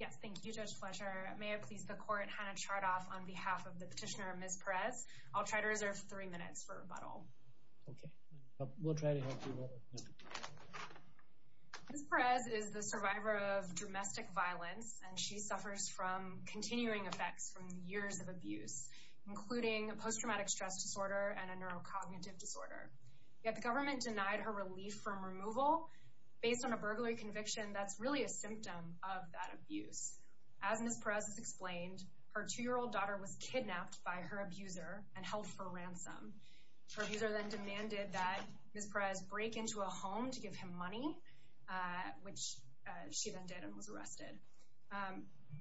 Yes, thank you Judge Fletcher. May I please the court Hannah Chardoff on behalf of the petitioner, Ms. Perez. I'll try to reserve three minutes for rebuttal. Okay, we'll try to help you. Ms. Perez is the survivor of domestic violence and she suffers from continuing effects from years of abuse including post-traumatic stress disorder and a neurocognitive disorder. Yet the government denied her relief from that abuse. As Ms. Perez has explained, her two-year-old daughter was kidnapped by her abuser and held for ransom. Her abuser then demanded that Ms. Perez break into a home to give him money, which she then did and was arrested.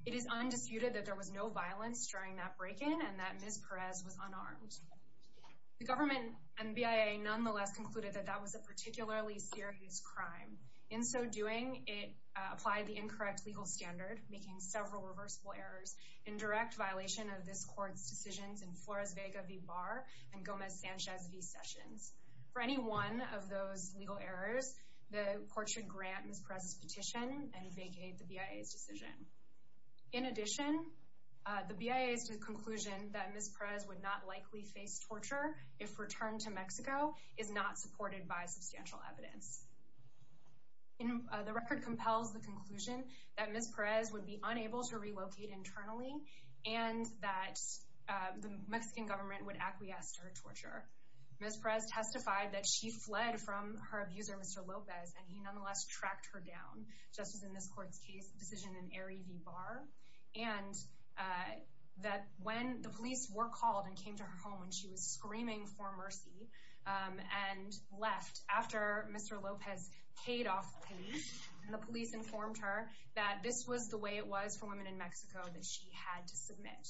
It is undisputed that there was no violence during that break-in and that Ms. Perez was unarmed. The government and BIA nonetheless concluded that that was a standard making several reversible errors in direct violation of this court's decisions in Flores Vega v. Barr and Gomez Sanchez v. Sessions. For any one of those legal errors, the court should grant Ms. Perez's petition and vacate the BIA's decision. In addition, the BIA's conclusion that Ms. Perez would not likely face torture if returned to Mexico is not supported by substantial evidence. The record compels the conclusion that Ms. Perez would be unable to relocate internally and that the Mexican government would acquiesce to her torture. Ms. Perez testified that she fled from her abuser Mr. Lopez and he nonetheless tracked her down, just as in this court's case decision in Eri v. Barr and that when the police were called and came to her home and she was screaming for mercy and left after Mr. Lopez paid off the police and the police informed her that this was the way it was for women in Mexico that she had to submit.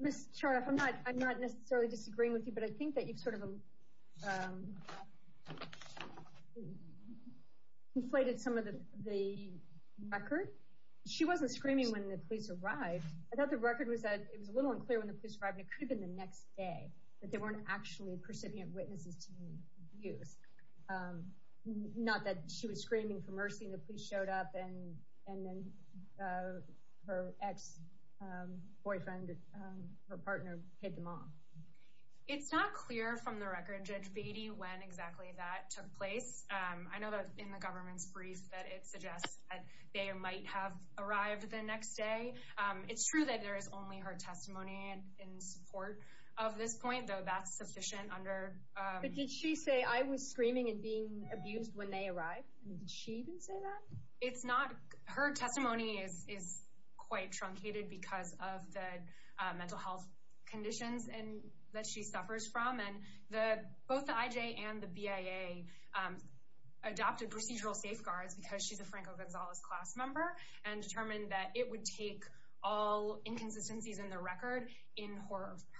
Ms. Chardoff, I'm not necessarily disagreeing with you, but I think that you've sort of inflated some of the record. She wasn't screaming when the police arrived. I thought the record was that it was a little unclear when the police arrived and it could have been the next day. But there weren't actually percipient witnesses to the abuse. Not that she was screaming for mercy and the police showed up and then her ex-boyfriend, her partner, hit them off. It's not clear from the record, Judge Beatty, when exactly that took place. I know that in the government's brief that it suggests that they might have arrived the next day. It's true that there is only her testimony in support of this point, though that's sufficient under... But did she say, I was screaming and being abused when they arrived? Did she even say that? It's not. Her testimony is quite truncated because of the mental health conditions that she suffers from. And both the IJ and the BIA adopted procedural safeguards because she's a Franco Gonzalez class member and determined that it would take all inconsistencies in the record in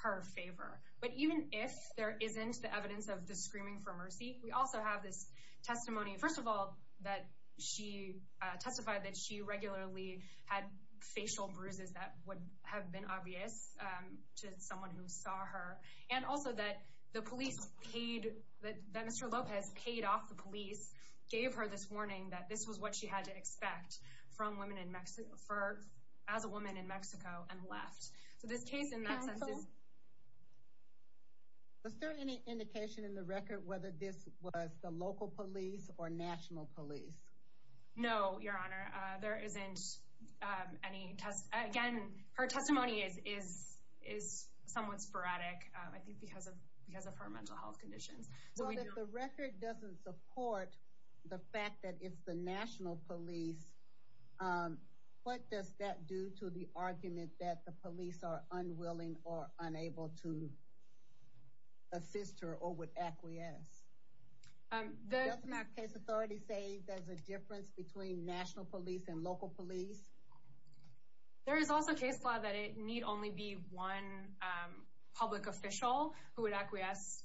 her favor. But even if there isn't the evidence of the screaming for mercy, we also have this testimony, first of all, that she testified that she regularly had facial bruises that would have been obvious to someone who saw her. And also that the police paid, that Mr. Lopez paid off the police, gave her this warning that this was what she had to expect from women in Mexico, as a woman in Mexico, and left. So this case in that sense is... Was there any indication in the record whether this was the local police or national police? No, Your Honor. There isn't any test. Again, her testimony is somewhat sporadic, I think because of her mental health conditions. Well, if the record doesn't support the fact that it's the national police, what does that do to the argument that the police are unwilling or unable to assist her or would acquiesce? Doesn't that case authority say there's a difference between national police and local police? There is also case law that it need only be one public official who would acquiesce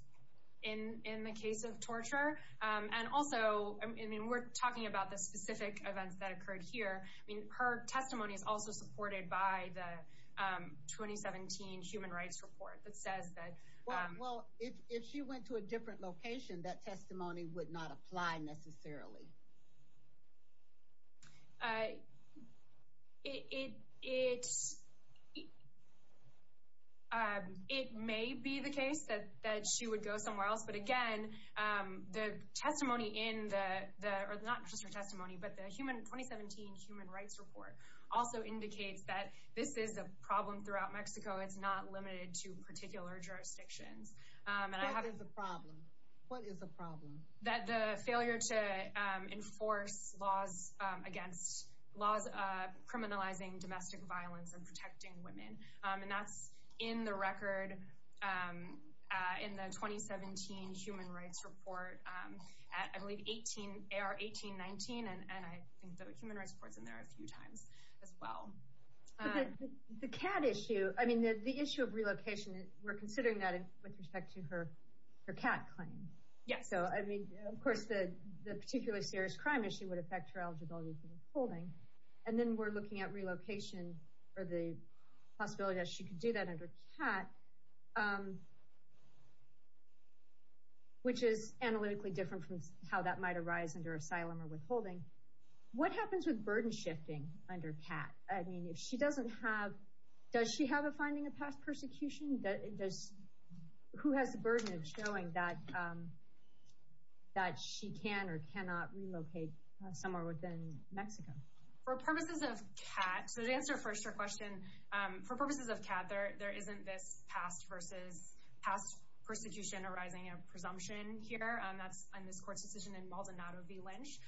in the case of torture. And also, I mean, we're talking about the specific events that occurred here. I mean, her testimony is also supported by the 2017 Human Rights Report that says that... Well, if she went to a different location, that testimony would not apply, necessarily. It may be the case that she would go somewhere else. But again, the testimony in the, or not just her testimony, but the 2017 Human Rights Report also indicates that this is a problem throughout Mexico. It's not limited to particular jurisdictions. What is the problem? What is the problem? That the failure to enforce laws against, laws criminalizing domestic violence and protecting women. And that's in the record in the 2017 Human Rights Report, I believe 18, 18-19. And I think the Human Rights Report's in there a few times as well. The cat issue, I mean, the issue of relocation, we're considering that with respect to her cat claim. Yes. So, I mean, of course, the particularly serious crime issue would affect her eligibility for withholding. And then we're looking at relocation or the possibility that she could do that under cat. Which is analytically different from how that might arise under asylum or withholding. What happens with burden shifting under cat? I mean, if she doesn't have, does she have a finding of past persecution? Does, who has the burden of showing that she can or cannot relocate somewhere within Mexico? For purposes of cat, so to answer first your question, for purposes of cat, there isn't this past versus past persecution arising of presumption here. That's on this court's decision in Maldonado v. Lynch.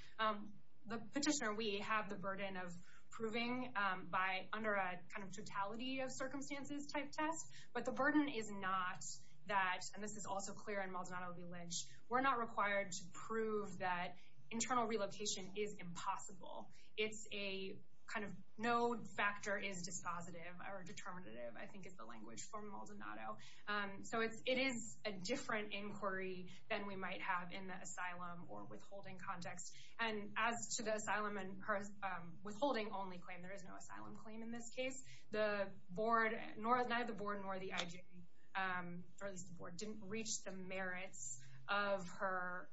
The petitioner, we have the burden of proving by under a kind of totality of circumstances type test. But the burden is not that, and this is also clear in Maldonado v. Lynch, we're not required to prove that internal relocation is impossible. It's a kind of no factor is dispositive or determinative, I think is the language for Maldonado. So it is a different inquiry than we might have in the asylum or withholding context. And as to the asylum and her withholding only claim, there is no asylum claim in this case. The board, neither the board nor the IG, or at least the board, didn't reach the merits of her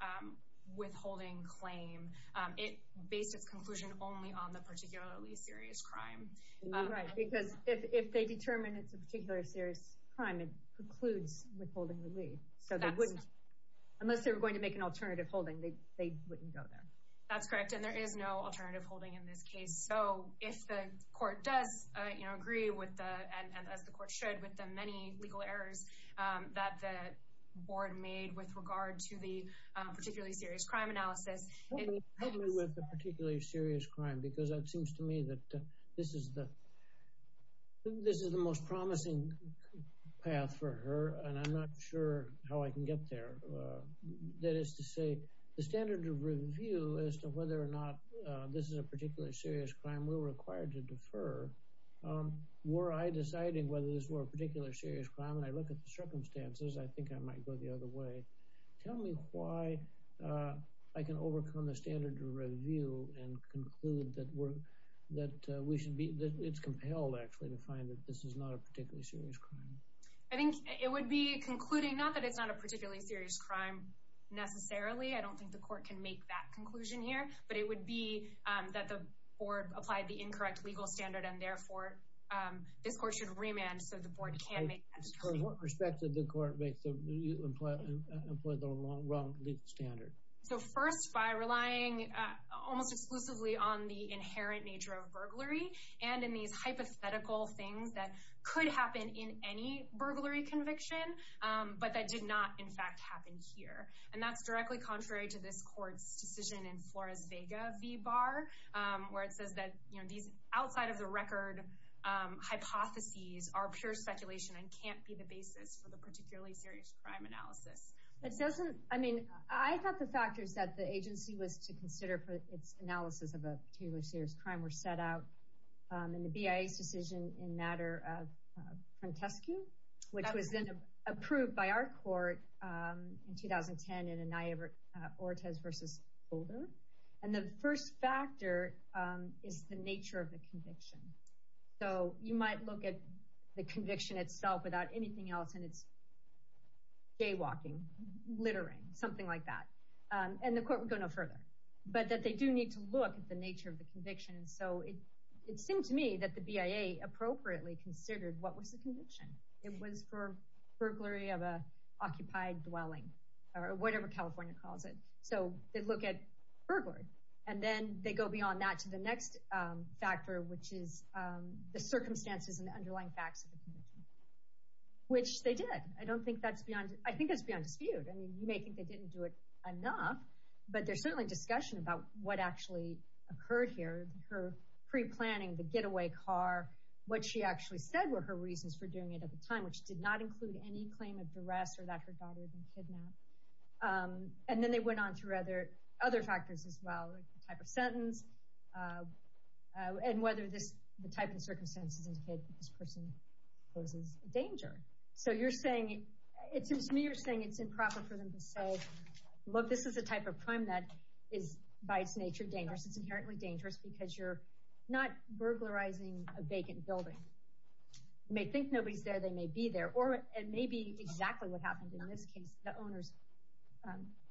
withholding claim. It based its conclusion only on the particularly serious crime. Because if they determine it's a particular serious crime, it precludes withholding relief. So they wouldn't, unless they were going to make an alternative holding, they wouldn't go there. That's correct. And there is no alternative holding in this case. So if the court does agree with that, and as the court should with the many legal errors that the board made with regard to the particularly serious crime analysis. Help me with the particularly serious crime, because it seems to me that this is the most promising path for her. And I'm not sure how I can get there. That is to say, the standard of review as to whether or not this is a particularly serious crime, we're required to defer. Were I deciding whether this were a particular serious crime and I look at the circumstances, I think I might go the other way. Tell me why I can overcome the standard of review and conclude that we're, that we should be, that it's compelled actually to find that this is not a particularly serious crime. I think it would be concluding not that it's not a particularly serious crime necessarily. I don't think the court can make that conclusion here, but it would be that the board applied the incorrect legal standard. And therefore, this court should remand so the board can make that decision. What respect did the court make to employ the wrong legal standard? So first, by relying almost exclusively on the inherent nature of burglary and in these hypothetical things that could happen in any burglary conviction. But that did not, in fact, happen here. And that's directly contrary to this court's decision in Flores-Vega v. Barr, where it says that, you know, these outside of the record hypotheses are pure speculation and can't be the basis for the particularly serious crime analysis. It doesn't, I mean, I thought the factors that the agency was to consider for its analysis of a particular serious crime were set out in the BIA's decision in matter of Prentescu, which was then approved by our court in 2010 in Anaya-Ortiz v. Holder. And the first factor is the nature of the conviction. So you might look at the conviction itself without anything else, and it's jaywalking, littering, something like that. And the court would go no further, but that they do need to look at the nature of the conviction. So it seemed to me that the BIA appropriately considered what was the conviction. It was for burglary of an occupied dwelling, or whatever California calls it. So they'd look at burglary, and then they'd go beyond that to the next factor, which is the circumstances and the underlying facts of the conviction, which they did. I don't think that's beyond, I think that's beyond dispute. I mean, you may think they didn't do it enough, but there's certainly discussion about what actually occurred here. Her pre-planning, the getaway car, what she actually said were her reasons for doing it at the time, which did not include any claim of duress or that her daughter had been kidnapped. And then they went on through other factors as well, like the type of sentence, and whether the type of circumstances indicated that this person poses danger. So you're saying, it seems to me you're saying it's improper for them to say, look, this is a type of crime that is by its nature dangerous. It's inherently dangerous because you're not burglarizing a vacant building. You may think nobody's there, they may be there, or it may be exactly what happened in this case. The owners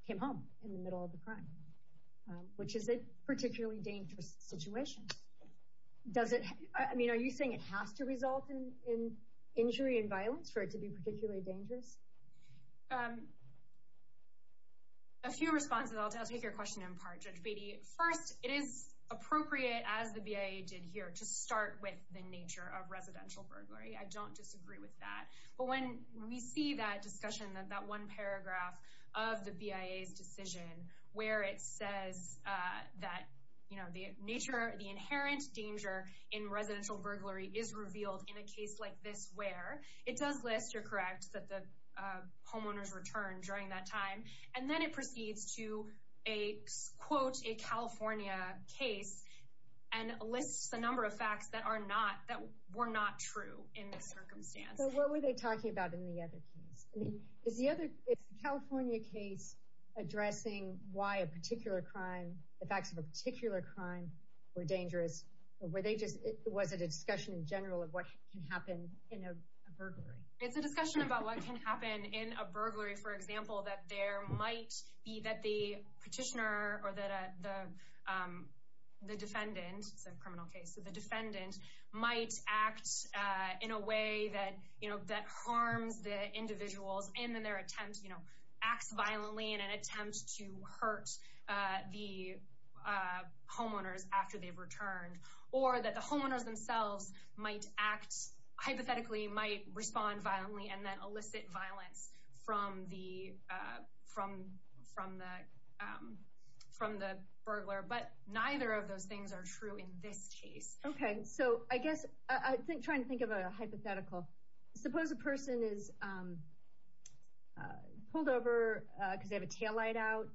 came home in the middle of the crime, which is a particularly dangerous situation. Does it, I mean, are you saying it has to result in injury and violence for it to be particularly dangerous? A few responses, I'll take your question in part, Judge Beatty. First, it is appropriate, as the BIA did here, to start with the nature of residential burglary. I don't disagree with that. But when we see that discussion, that one paragraph of the BIA's decision where it says that, you know, the nature, the inherent danger in residential burglary is revealed in a case like this where it does list, you're correct, that the homeowners returned during that time. And then it proceeds to a, quote, a California case and lists a number of facts that are not, that were not true in this circumstance. So what were they talking about in the other case? I mean, is the other, is the California case addressing why a particular crime, the facts of a particular crime were dangerous? Or were they just, was it a discussion in general of what can happen in a burglary? It's a discussion about what can happen in a burglary, for example, that there might be that the petitioner or that the defendant, it's a criminal case, so the defendant might act in a way that, you know, that harms the individuals. And then their attempt, you know, acts violently in an attempt to hurt the homeowners after they've returned, or that the homeowners themselves might act, hypothetically, might respond violently and then elicit violence from the, from the burglar. But neither of those things are true in this case. Okay, so I guess, I think, trying to think of a hypothetical, suppose a person is pulled over because they have a taillight out,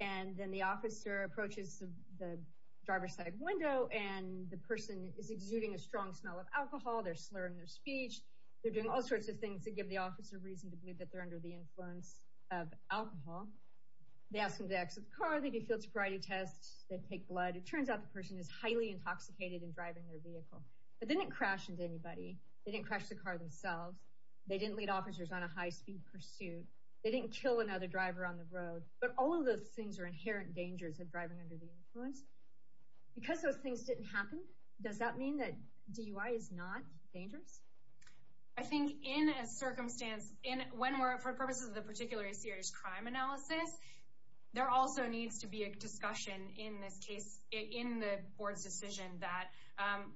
and then the officer approaches the driver's side window, and the person is exuding a strong smell of alcohol, they're slurring their speech, they're doing all sorts of things to give the officer reason to believe that they're under the influence of alcohol. They ask them to exit the car, they do field sobriety tests, they take blood, it turns out the person is highly intoxicated and driving their vehicle, but they didn't crash into anybody, they didn't crash the car themselves, they didn't lead officers on a high-speed pursuit, they didn't kill another driver on the road, but all of those things are inherent dangers of driving under the influence. Because those things didn't happen, does that mean that DUI is not dangerous? I think in a circumstance, in, when we're, for purposes of the particularly serious crime analysis, there also needs to be a discussion in this case, in the board's decision that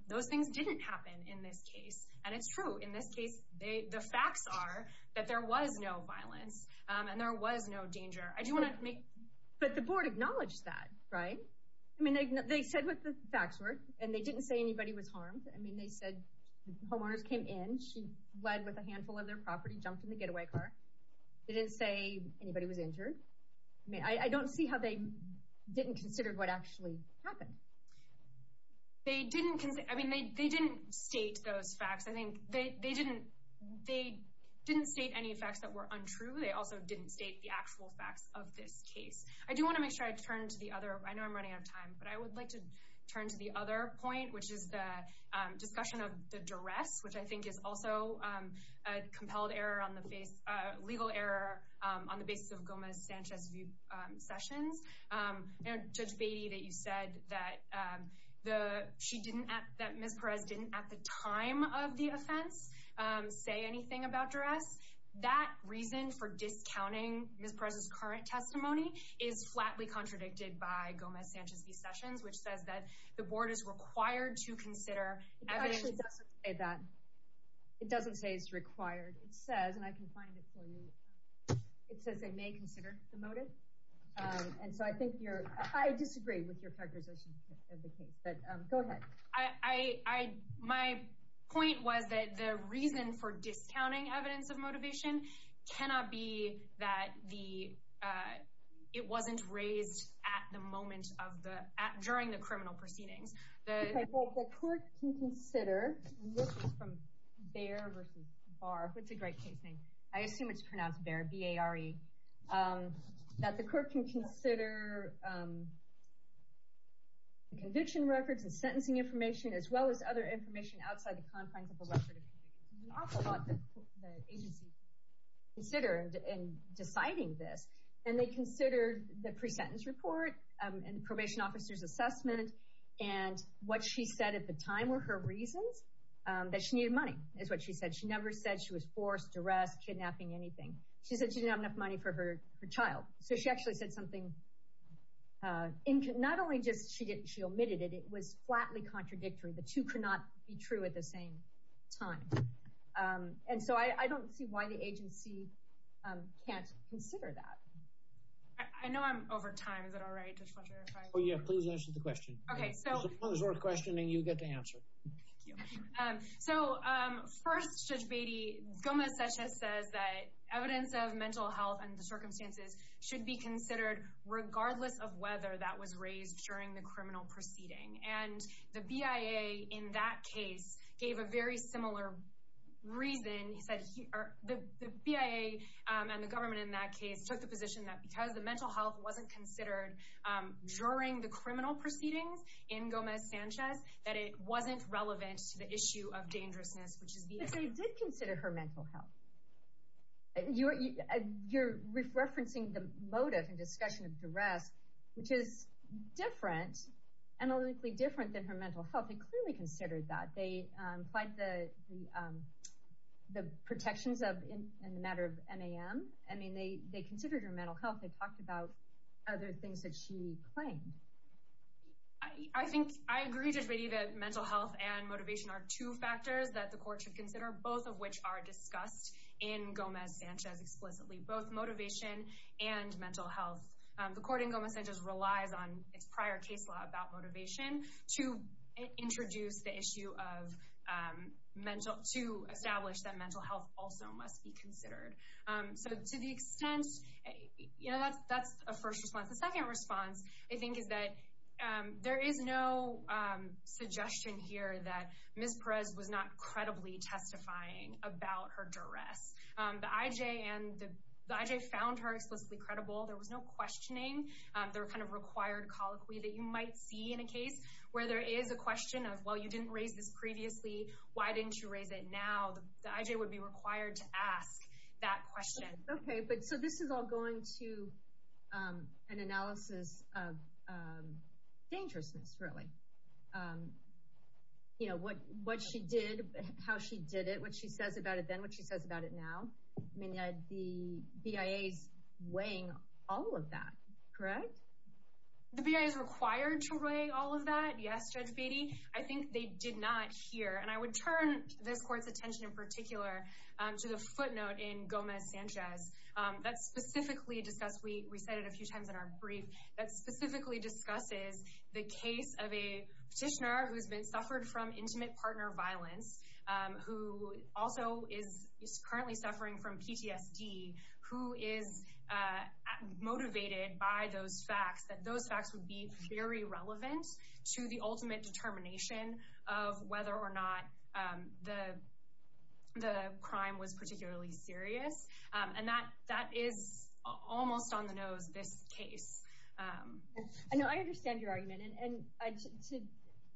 those things didn't happen in this case, and it's true, in this case, they, the facts are that there was no violence, and there was no danger. But the board acknowledged that, right? I mean, they said what the facts were, and they didn't say anybody was harmed, I mean, they said homeowners came in, she led with a handful of their property, jumped in the getaway car, they didn't say anybody was injured, I mean, I don't see how they didn't consider what actually happened. They didn't, I mean, they didn't state those facts, I think, they didn't, they didn't state any facts that were untrue, they also didn't state the actual facts of this case. I do want to make sure I turn to the other, I know I'm running out of time, but I would like to turn to the other point, which is the discussion of the duress, which I think is also a compelled error on the face, legal error on the basis of Gomez-Sanchez v. Sessions. Judge Beatty, that you said that she didn't, that Ms. Perez didn't, at the time of the offense, say anything about duress, that reason for discounting Ms. Perez's current testimony is flatly contradicted by Gomez-Sanchez v. Sessions, which says that the board is required to consider evidence. It actually doesn't say that, it doesn't say it's required, it says, and I can find it for you, it says they may consider the motive, and so I think you're, I disagree with your characterization of the case, but go ahead. I, my point was that the reason for discounting evidence of motivation cannot be that the, it wasn't raised at the moment of the, during the criminal proceedings. Okay, but the court can consider, and this is from Baer v. Barr, which is a great case name, I assume it's pronounced Baer, B-A-R-E, that the court can consider the conviction records and sentencing information, as well as other information outside the confines of the record of conviction. An awful lot that the agency considered in deciding this, and they considered the pre-sentence report, and the probation officer's assessment, and what she said at the time were her reasons that she needed money, is what she said. And so I don't see why the agency can't consider that. I know I'm over time, is that all right, Judge Fletcher, if I? Oh yeah, please answer the question. Okay, so. It's a short question, and you get to answer it. Thank you. So, first, Judge Beatty, Gomez-Sanchez says that evidence of mental health and the circumstances should be considered regardless of whether that was raised during the criminal proceeding. And the BIA, in that case, gave a very similar reason. He said the BIA, and the government in that case, took the position that because the mental health wasn't considered during the criminal proceedings in Gomez-Sanchez, that it wasn't relevant to the issue of dangerousness, which is BIA. But they did consider her mental health. You're referencing the motive and discussion of duress, which is different, analytically different, than her mental health. They clearly considered that. They implied the protections in the matter of MAM. I mean, they considered her mental health. They talked about other things that she claimed. I agree, Judge Beatty, that mental health and motivation are two factors that the court should consider, both of which are discussed in Gomez-Sanchez explicitly. Both motivation and mental health. The court in Gomez-Sanchez relies on its prior case law about motivation to introduce the issue of mental – to establish that mental health also must be considered. So, to the extent – you know, that's a first response. The second response, I think, is that there is no suggestion here that Ms. Perez was not credibly testifying about her duress. The IJ found her explicitly credible. There was no questioning. There were kind of required colloquy that you might see in a case where there is a question of, well, you didn't raise this previously. Why didn't you raise it now? The IJ would be required to ask that question. Okay, but so this is all going to an analysis of dangerousness, really. You know, what she did, how she did it, what she says about it then, what she says about it now. I mean, the BIA is weighing all of that, correct? The BIA is required to weigh all of that, yes, Judge Beatty. I think they did not hear – and I would turn this court's attention in particular to the footnote in Gomez-Sanchez that specifically discussed – we said it a few times in our brief – that specifically discusses the case of a petitioner who has been – suffered from intimate partner violence, who also is currently suffering from PTSD, who is motivated by those facts, that those facts would be very relevant to the ultimate determination of whether or not the crime was particularly serious. And that is almost on the nose, this case. No, I understand your argument, and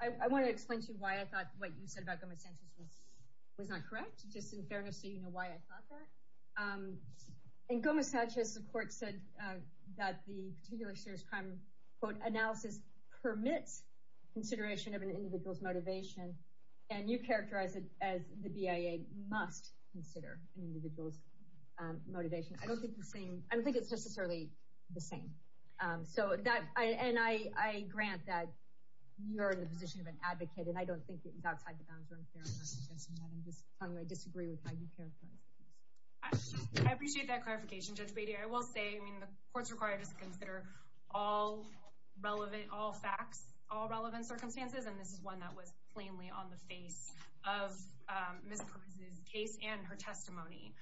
I want to explain to you why I thought what you said about Gomez-Sanchez was not correct, just in fairness so you know why I thought that. In Gomez-Sanchez, the court said that the particularly serious crime quote analysis permits consideration of an individual's motivation, and you characterize it as the BIA must consider an individual's motivation. I don't think it's necessarily the same. And I grant that you're in the position of an advocate, and I don't think it's outside the bounds of fairness, I'm just saying that I disagree with how you characterize the case. I appreciate that clarification, Judge Beatty. I will say, I mean, the court's required us to consider all facts, all relevant circumstances, and this is one that was plainly on the face of Ms. Perez's case and her testimony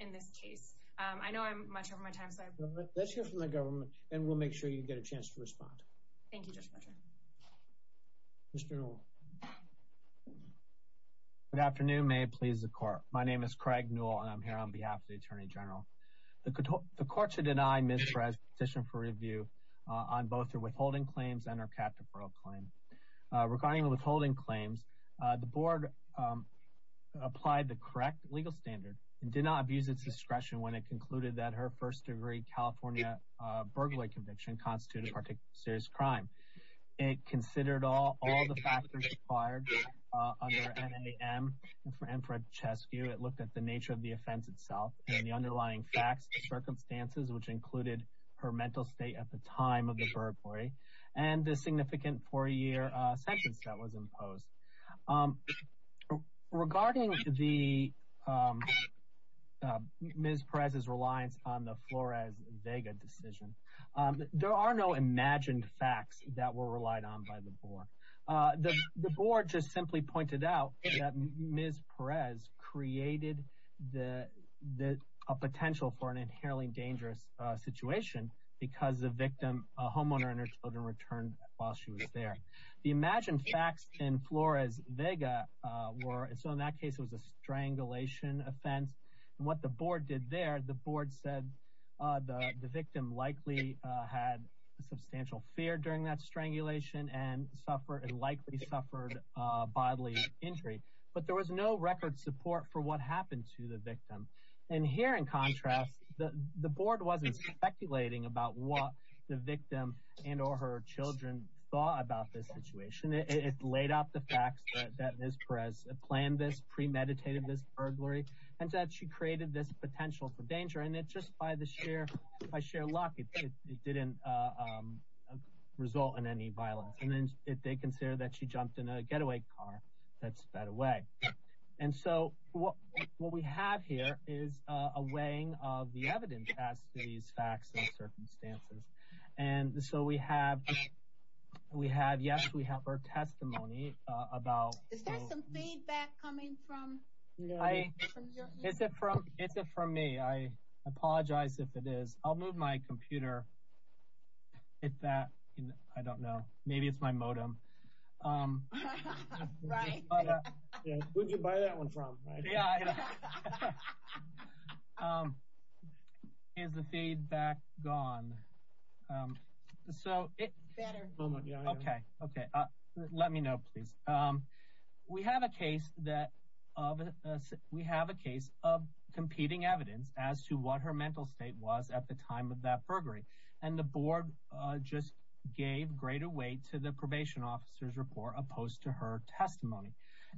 in this case. I know I'm much over my time, so I apologize. Let's hear from the government, and we'll make sure you get a chance to respond. Thank you, Judge Fletcher. Mr. Newell. Good afternoon. May it please the Court. My name is Craig Newell, and I'm here on behalf of the Attorney General. The Court should deny Ms. Perez's petition for review on both her withholding claims and her captive parole claim. Regarding the withholding claims, the Board applied the correct legal standard and did not abuse its discretion when it concluded that her first-degree California burglary conviction constituted a particularly serious crime. It considered all the factors required under NAM and for Francescu. It looked at the nature of the offense itself and the underlying facts and circumstances, which included her mental state at the time of the burglary and the significant four-year sentence that was imposed. Regarding Ms. Perez's reliance on the Flores-Vega decision, there are no imagined facts that were relied on by the Board. The Board just simply pointed out that Ms. Perez created a potential for an inherently dangerous situation because the victim, a homeowner, and her children returned while she was there. The imagined facts in Flores-Vega were, so in that case, it was a strangulation offense. What the Board did there, the Board said the victim likely had substantial fear during that strangulation and likely suffered bodily injury. But there was no record support for what happened to the victim. Here, in contrast, the Board wasn't speculating about what the victim and or her children thought about this situation. It laid out the facts that Ms. Perez planned this, premeditated this burglary, and that she created this potential for danger. Just by sheer luck, it didn't result in any violence. They considered that she jumped in a getaway car that sped away. What we have here is a weighing of the evidence as to these facts and circumstances. Yes, we have our testimony. Is there some feedback coming from you? It's from me. I apologize if it is. I'll move my computer. I don't know. Maybe it's my modem. Who'd you buy that one from? Is the feedback gone? Let me know, please. We have a case of competing evidence as to what her mental state was at the time of that burglary. And the Board just gave greater weight to the probation officer's report opposed to her testimony.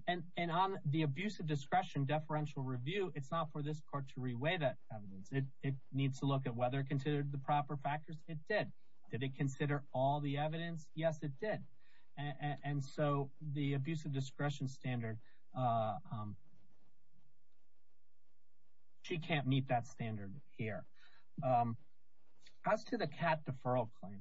And on the abuse of discretion deferential review, it's not for this court to re-weigh that evidence. It needs to look at whether it considered the proper factors. It did. Did it consider all the evidence? Yes, it did. And so the abuse of discretion standard, she can't meet that standard here. As to the cat deferral claim,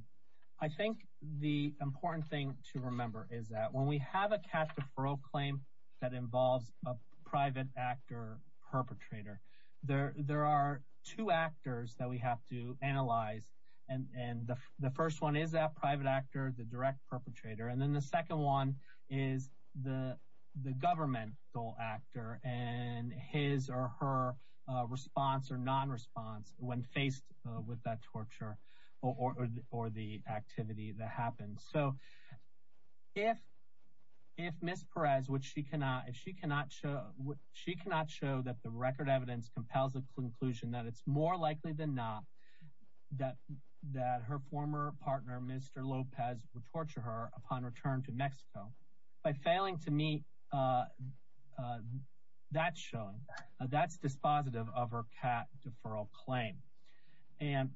I think the important thing to remember is that when we have a cat deferral claim that involves a private actor perpetrator, there are two actors that we have to analyze. And the first one is that private actor, the direct perpetrator. And then the second one is the governmental actor and his or her response or non-response when faced with that torture or the activity that happened. So if Ms. Perez, if she cannot show that the record evidence compels the conclusion that it's more likely than not that her former partner, Mr. Lopez, would torture her upon return to Mexico, by failing to meet that showing, that's dispositive of her cat deferral claim. And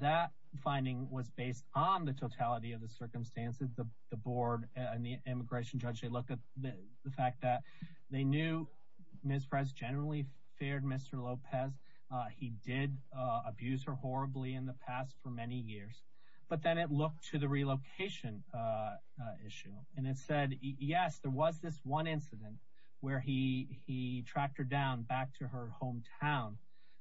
that finding was based on the totality of the circumstances. The board and the immigration judge, they looked at the fact that they knew Ms. Perez generally feared Mr. Lopez. He did abuse her horribly in the past for many years. But then it looked to the relocation issue. And it said, yes, there was this one incident where he tracked her down back to her hometown.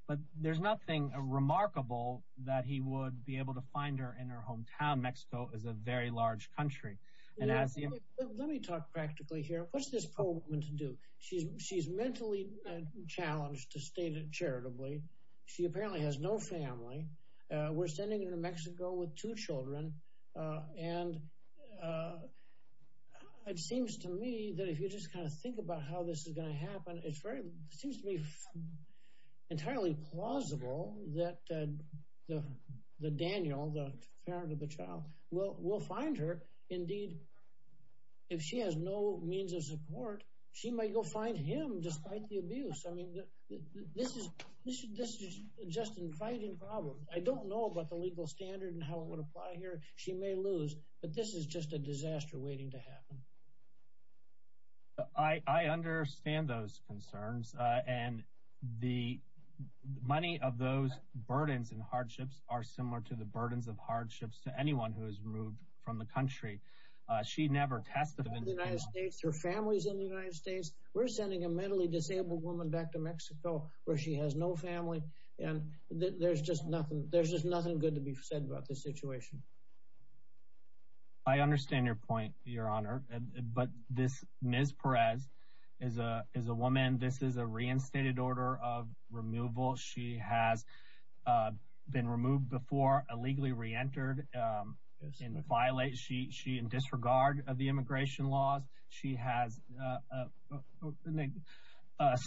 But there's nothing remarkable that he would be able to find her in her hometown. Mexico is a very large country. Let me talk practically here. What's this poor woman to do? She's mentally challenged to stay there charitably. She apparently has no family. We're sending her to Mexico with two children. And it seems to me that if you just kind of think about how this is going to happen, it seems to me entirely plausible that Daniel, the parent of the child, will find her. Indeed, if she has no means of support, she might go find him despite the abuse. I mean, this is just inviting problems. I don't know about the legal standard and how it would apply here. She may lose. But this is just a disaster waiting to happen. I understand those concerns. And the money of those burdens and hardships are similar to the burdens of hardships to anyone who is removed from the country. She never tested in the United States. Her family is in the United States. We're sending a mentally disabled woman back to Mexico where she has no family. And there's just nothing. There's just nothing good to be said about this situation. I understand your point, Your Honor. But this Ms. Perez is a woman. This is a reinstated order of removal. She has been removed before, illegally reentered and violated. She is in disregard of the immigration laws. She has a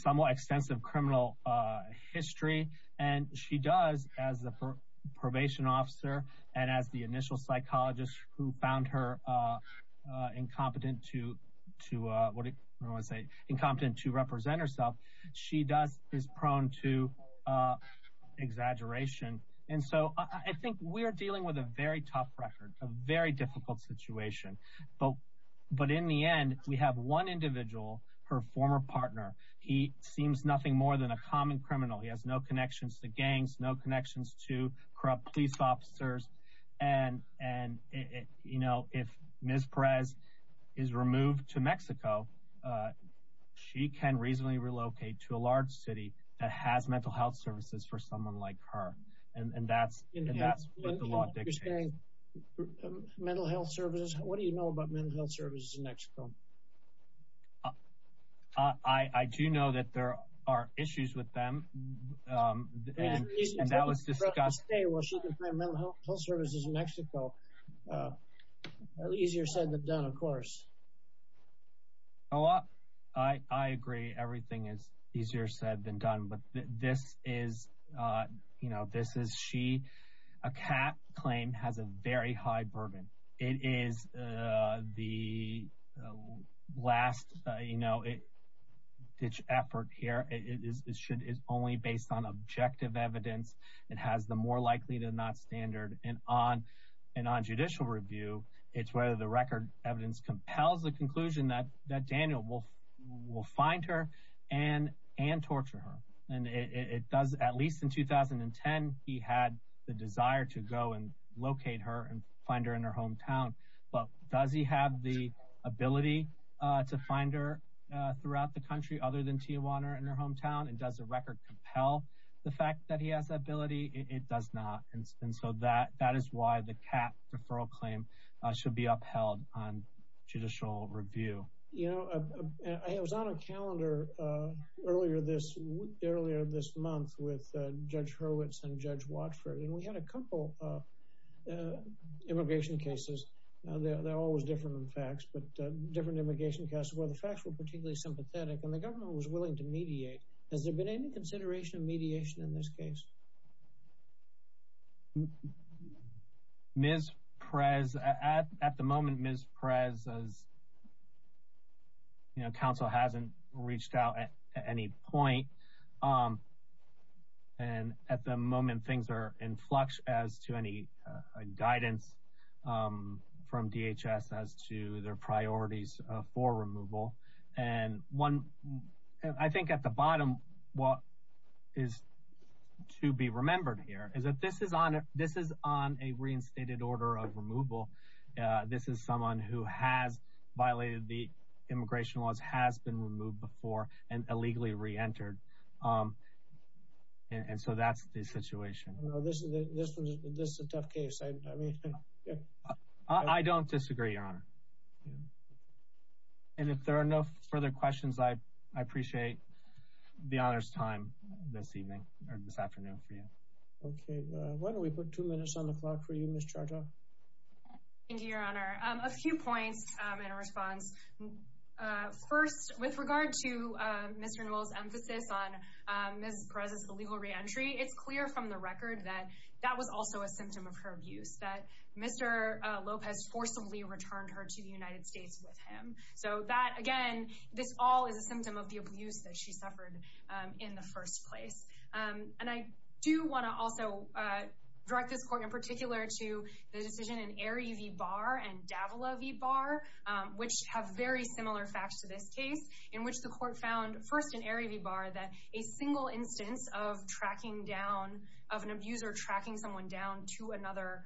somewhat extensive criminal history. And she does, as a probation officer and as the initial psychologist who found her incompetent to represent herself, she is prone to exaggeration. And so I think we are dealing with a very tough record, a very difficult situation. But in the end, we have one individual, her former partner. He seems nothing more than a common criminal. He has no connections to gangs, no connections to corrupt police officers. And, you know, if Ms. Perez is removed to Mexico, she can reasonably relocate to a large city that has mental health services for someone like her. And that's what the law dictates. Mental health services? What do you know about mental health services in Mexico? I do know that there are issues with them. And that was discussed. Well, she can find mental health services in Mexico. Easier said than done, of course. Oh, I agree. Everything is easier said than done. But this is, you know, this is she, a cap claim has a very high burden. It is the last, you know, ditch effort here. It is only based on objective evidence. It has the more likely to not standard. And on judicial review, it's whether the record evidence compels the conclusion that Daniel will find her and torture her. At least in 2010, he had the desire to go and locate her and find her in her hometown. But does he have the ability to find her throughout the country other than Tijuana in her hometown? And does the record compel the fact that he has that ability? It does not. And so that is why the cap deferral claim should be upheld on judicial review. You know, I was on a calendar earlier this month with Judge Hurwitz and Judge Watford. And we had a couple of immigration cases. They're always different than facts, but different immigration cases where the facts were particularly sympathetic. And the government was willing to mediate. Has there been any consideration of mediation in this case? Ms. Perez, at the moment, Ms. Perez's, you know, counsel hasn't reached out at any point. And at the moment, things are in flux as to any guidance from DHS as to their priorities for removal. And I think at the bottom, what is to be remembered here is that this is on a reinstated order of removal. This is someone who has violated the immigration laws, has been removed before, and illegally reentered. And so that's the situation. This is a tough case. I don't disagree, Your Honor. And if there are no further questions, I appreciate the honor's time this evening or this afternoon for you. Okay. Why don't we put two minutes on the clock for you, Ms. Charta? Thank you, Your Honor. A few points in response. First, with regard to Mr. Newell's emphasis on Ms. Perez's illegal reentry, it's clear from the record that that was also a symptom of her abuse, that Mr. Lopez forcibly returned her to the United States with him. So that, again, this all is a symptom of the abuse that she suffered in the first place. And I do want to also direct this court in particular to the decision in Erie v. Barr and Davila v. Barr, which have very similar facts to this case, in which the court found, first in Erie v. Barr, that a single instance of an abuser tracking someone down to another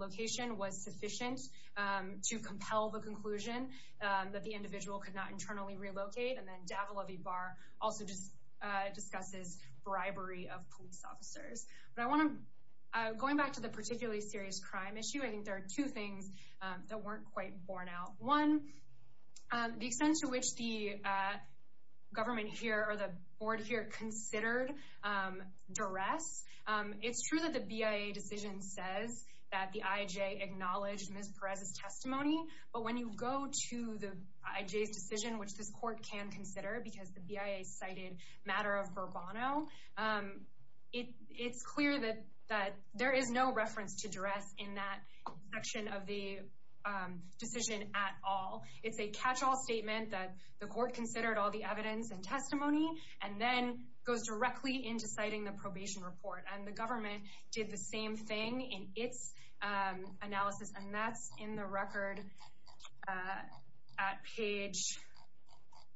location was sufficient to compel the conclusion that the individual could not internally relocate. And then Davila v. Barr also discusses bribery of police officers. But going back to the particularly serious crime issue, I think there are two things that weren't quite borne out. One, the extent to which the government here or the board here considered duress. It's true that the BIA decision says that the IJ acknowledged Ms. Perez's testimony. But when you go to the IJ's decision, which this court can consider because the BIA cited matter of Burbano, it's clear that there is no reference to duress in that section of the decision at all. It's a catch-all statement that the court considered all the evidence and testimony and then goes directly into citing the probation report. And the government did the same thing in its analysis. And that's in the record at page...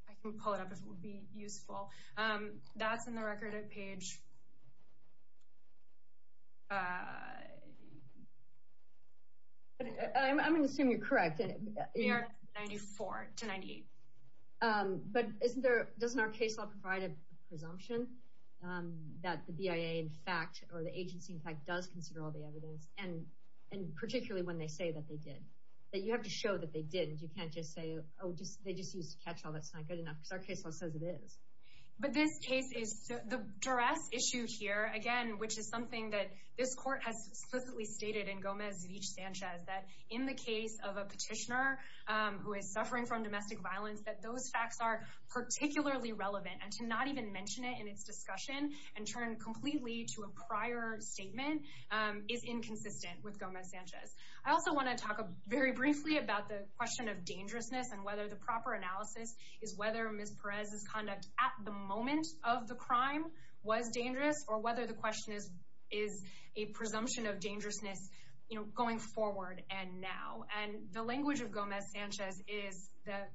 I can pull it up if it would be useful. That's in the record at page... I'm going to assume you're correct. 94 to 98. But doesn't our case law provide a presumption that the BIA in fact, or the agency in fact, does consider all the evidence and particularly when they say that they did? That you have to show that they didn't. You can't just say, oh, they just used a catch-all. That's not good enough because our case law says it is. But this case is... the duress issued here, again, which is something that this court has explicitly stated in Gomez-Rich-Sanchez, that in the case of a petitioner who is suffering from domestic violence, that those facts are particularly relevant. And to not even mention it in its discussion and turn completely to a prior statement is inconsistent with Gomez-Sanchez. I also want to talk very briefly about the question of dangerousness and whether the proper analysis is whether Ms. Perez's conduct at the moment of the crime was dangerous or whether the question is a presumption of dangerousness going forward and now. And the language of Gomez-Sanchez is that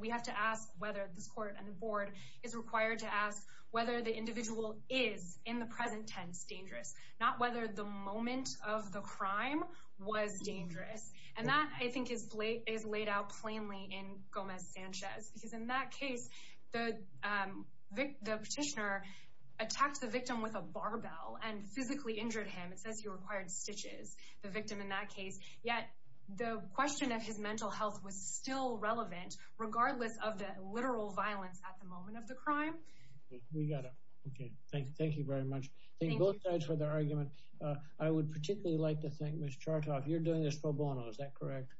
we have to ask whether this court and the board is required to ask whether the individual is, in the present tense, dangerous, not whether the moment of the crime was dangerous. And that, I think, is laid out plainly in Gomez-Sanchez because in that case, the petitioner attacked the victim with a barbell and physically injured him. It says he required stitches, the victim in that case. Yet, the question of his mental health was still relevant, regardless of the literal violence at the moment of the crime. We got it. Okay. Thank you very much. Thank you both sides for the argument. I would particularly like to thank Ms. Chartoff. You're doing this pro bono, is that correct?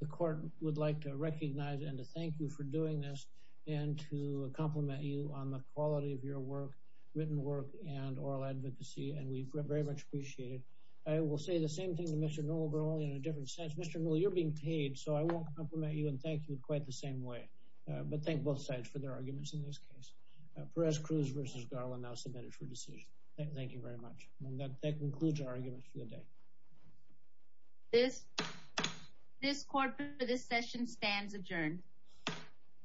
The court would like to recognize and to thank you for doing this and to compliment you on the quality of your work, written work, and oral advocacy, and we very much appreciate it. I will say the same thing to Mr. Nola, but only in a different sense. Mr. Nola, you're being paid, so I won't compliment you and thank you in quite the same way, but thank both sides for their arguments in this case. Perez-Cruz v. Garland, now submitted for decision. Thank you very much. And that concludes our argument for the day. This court for this session stands adjourned.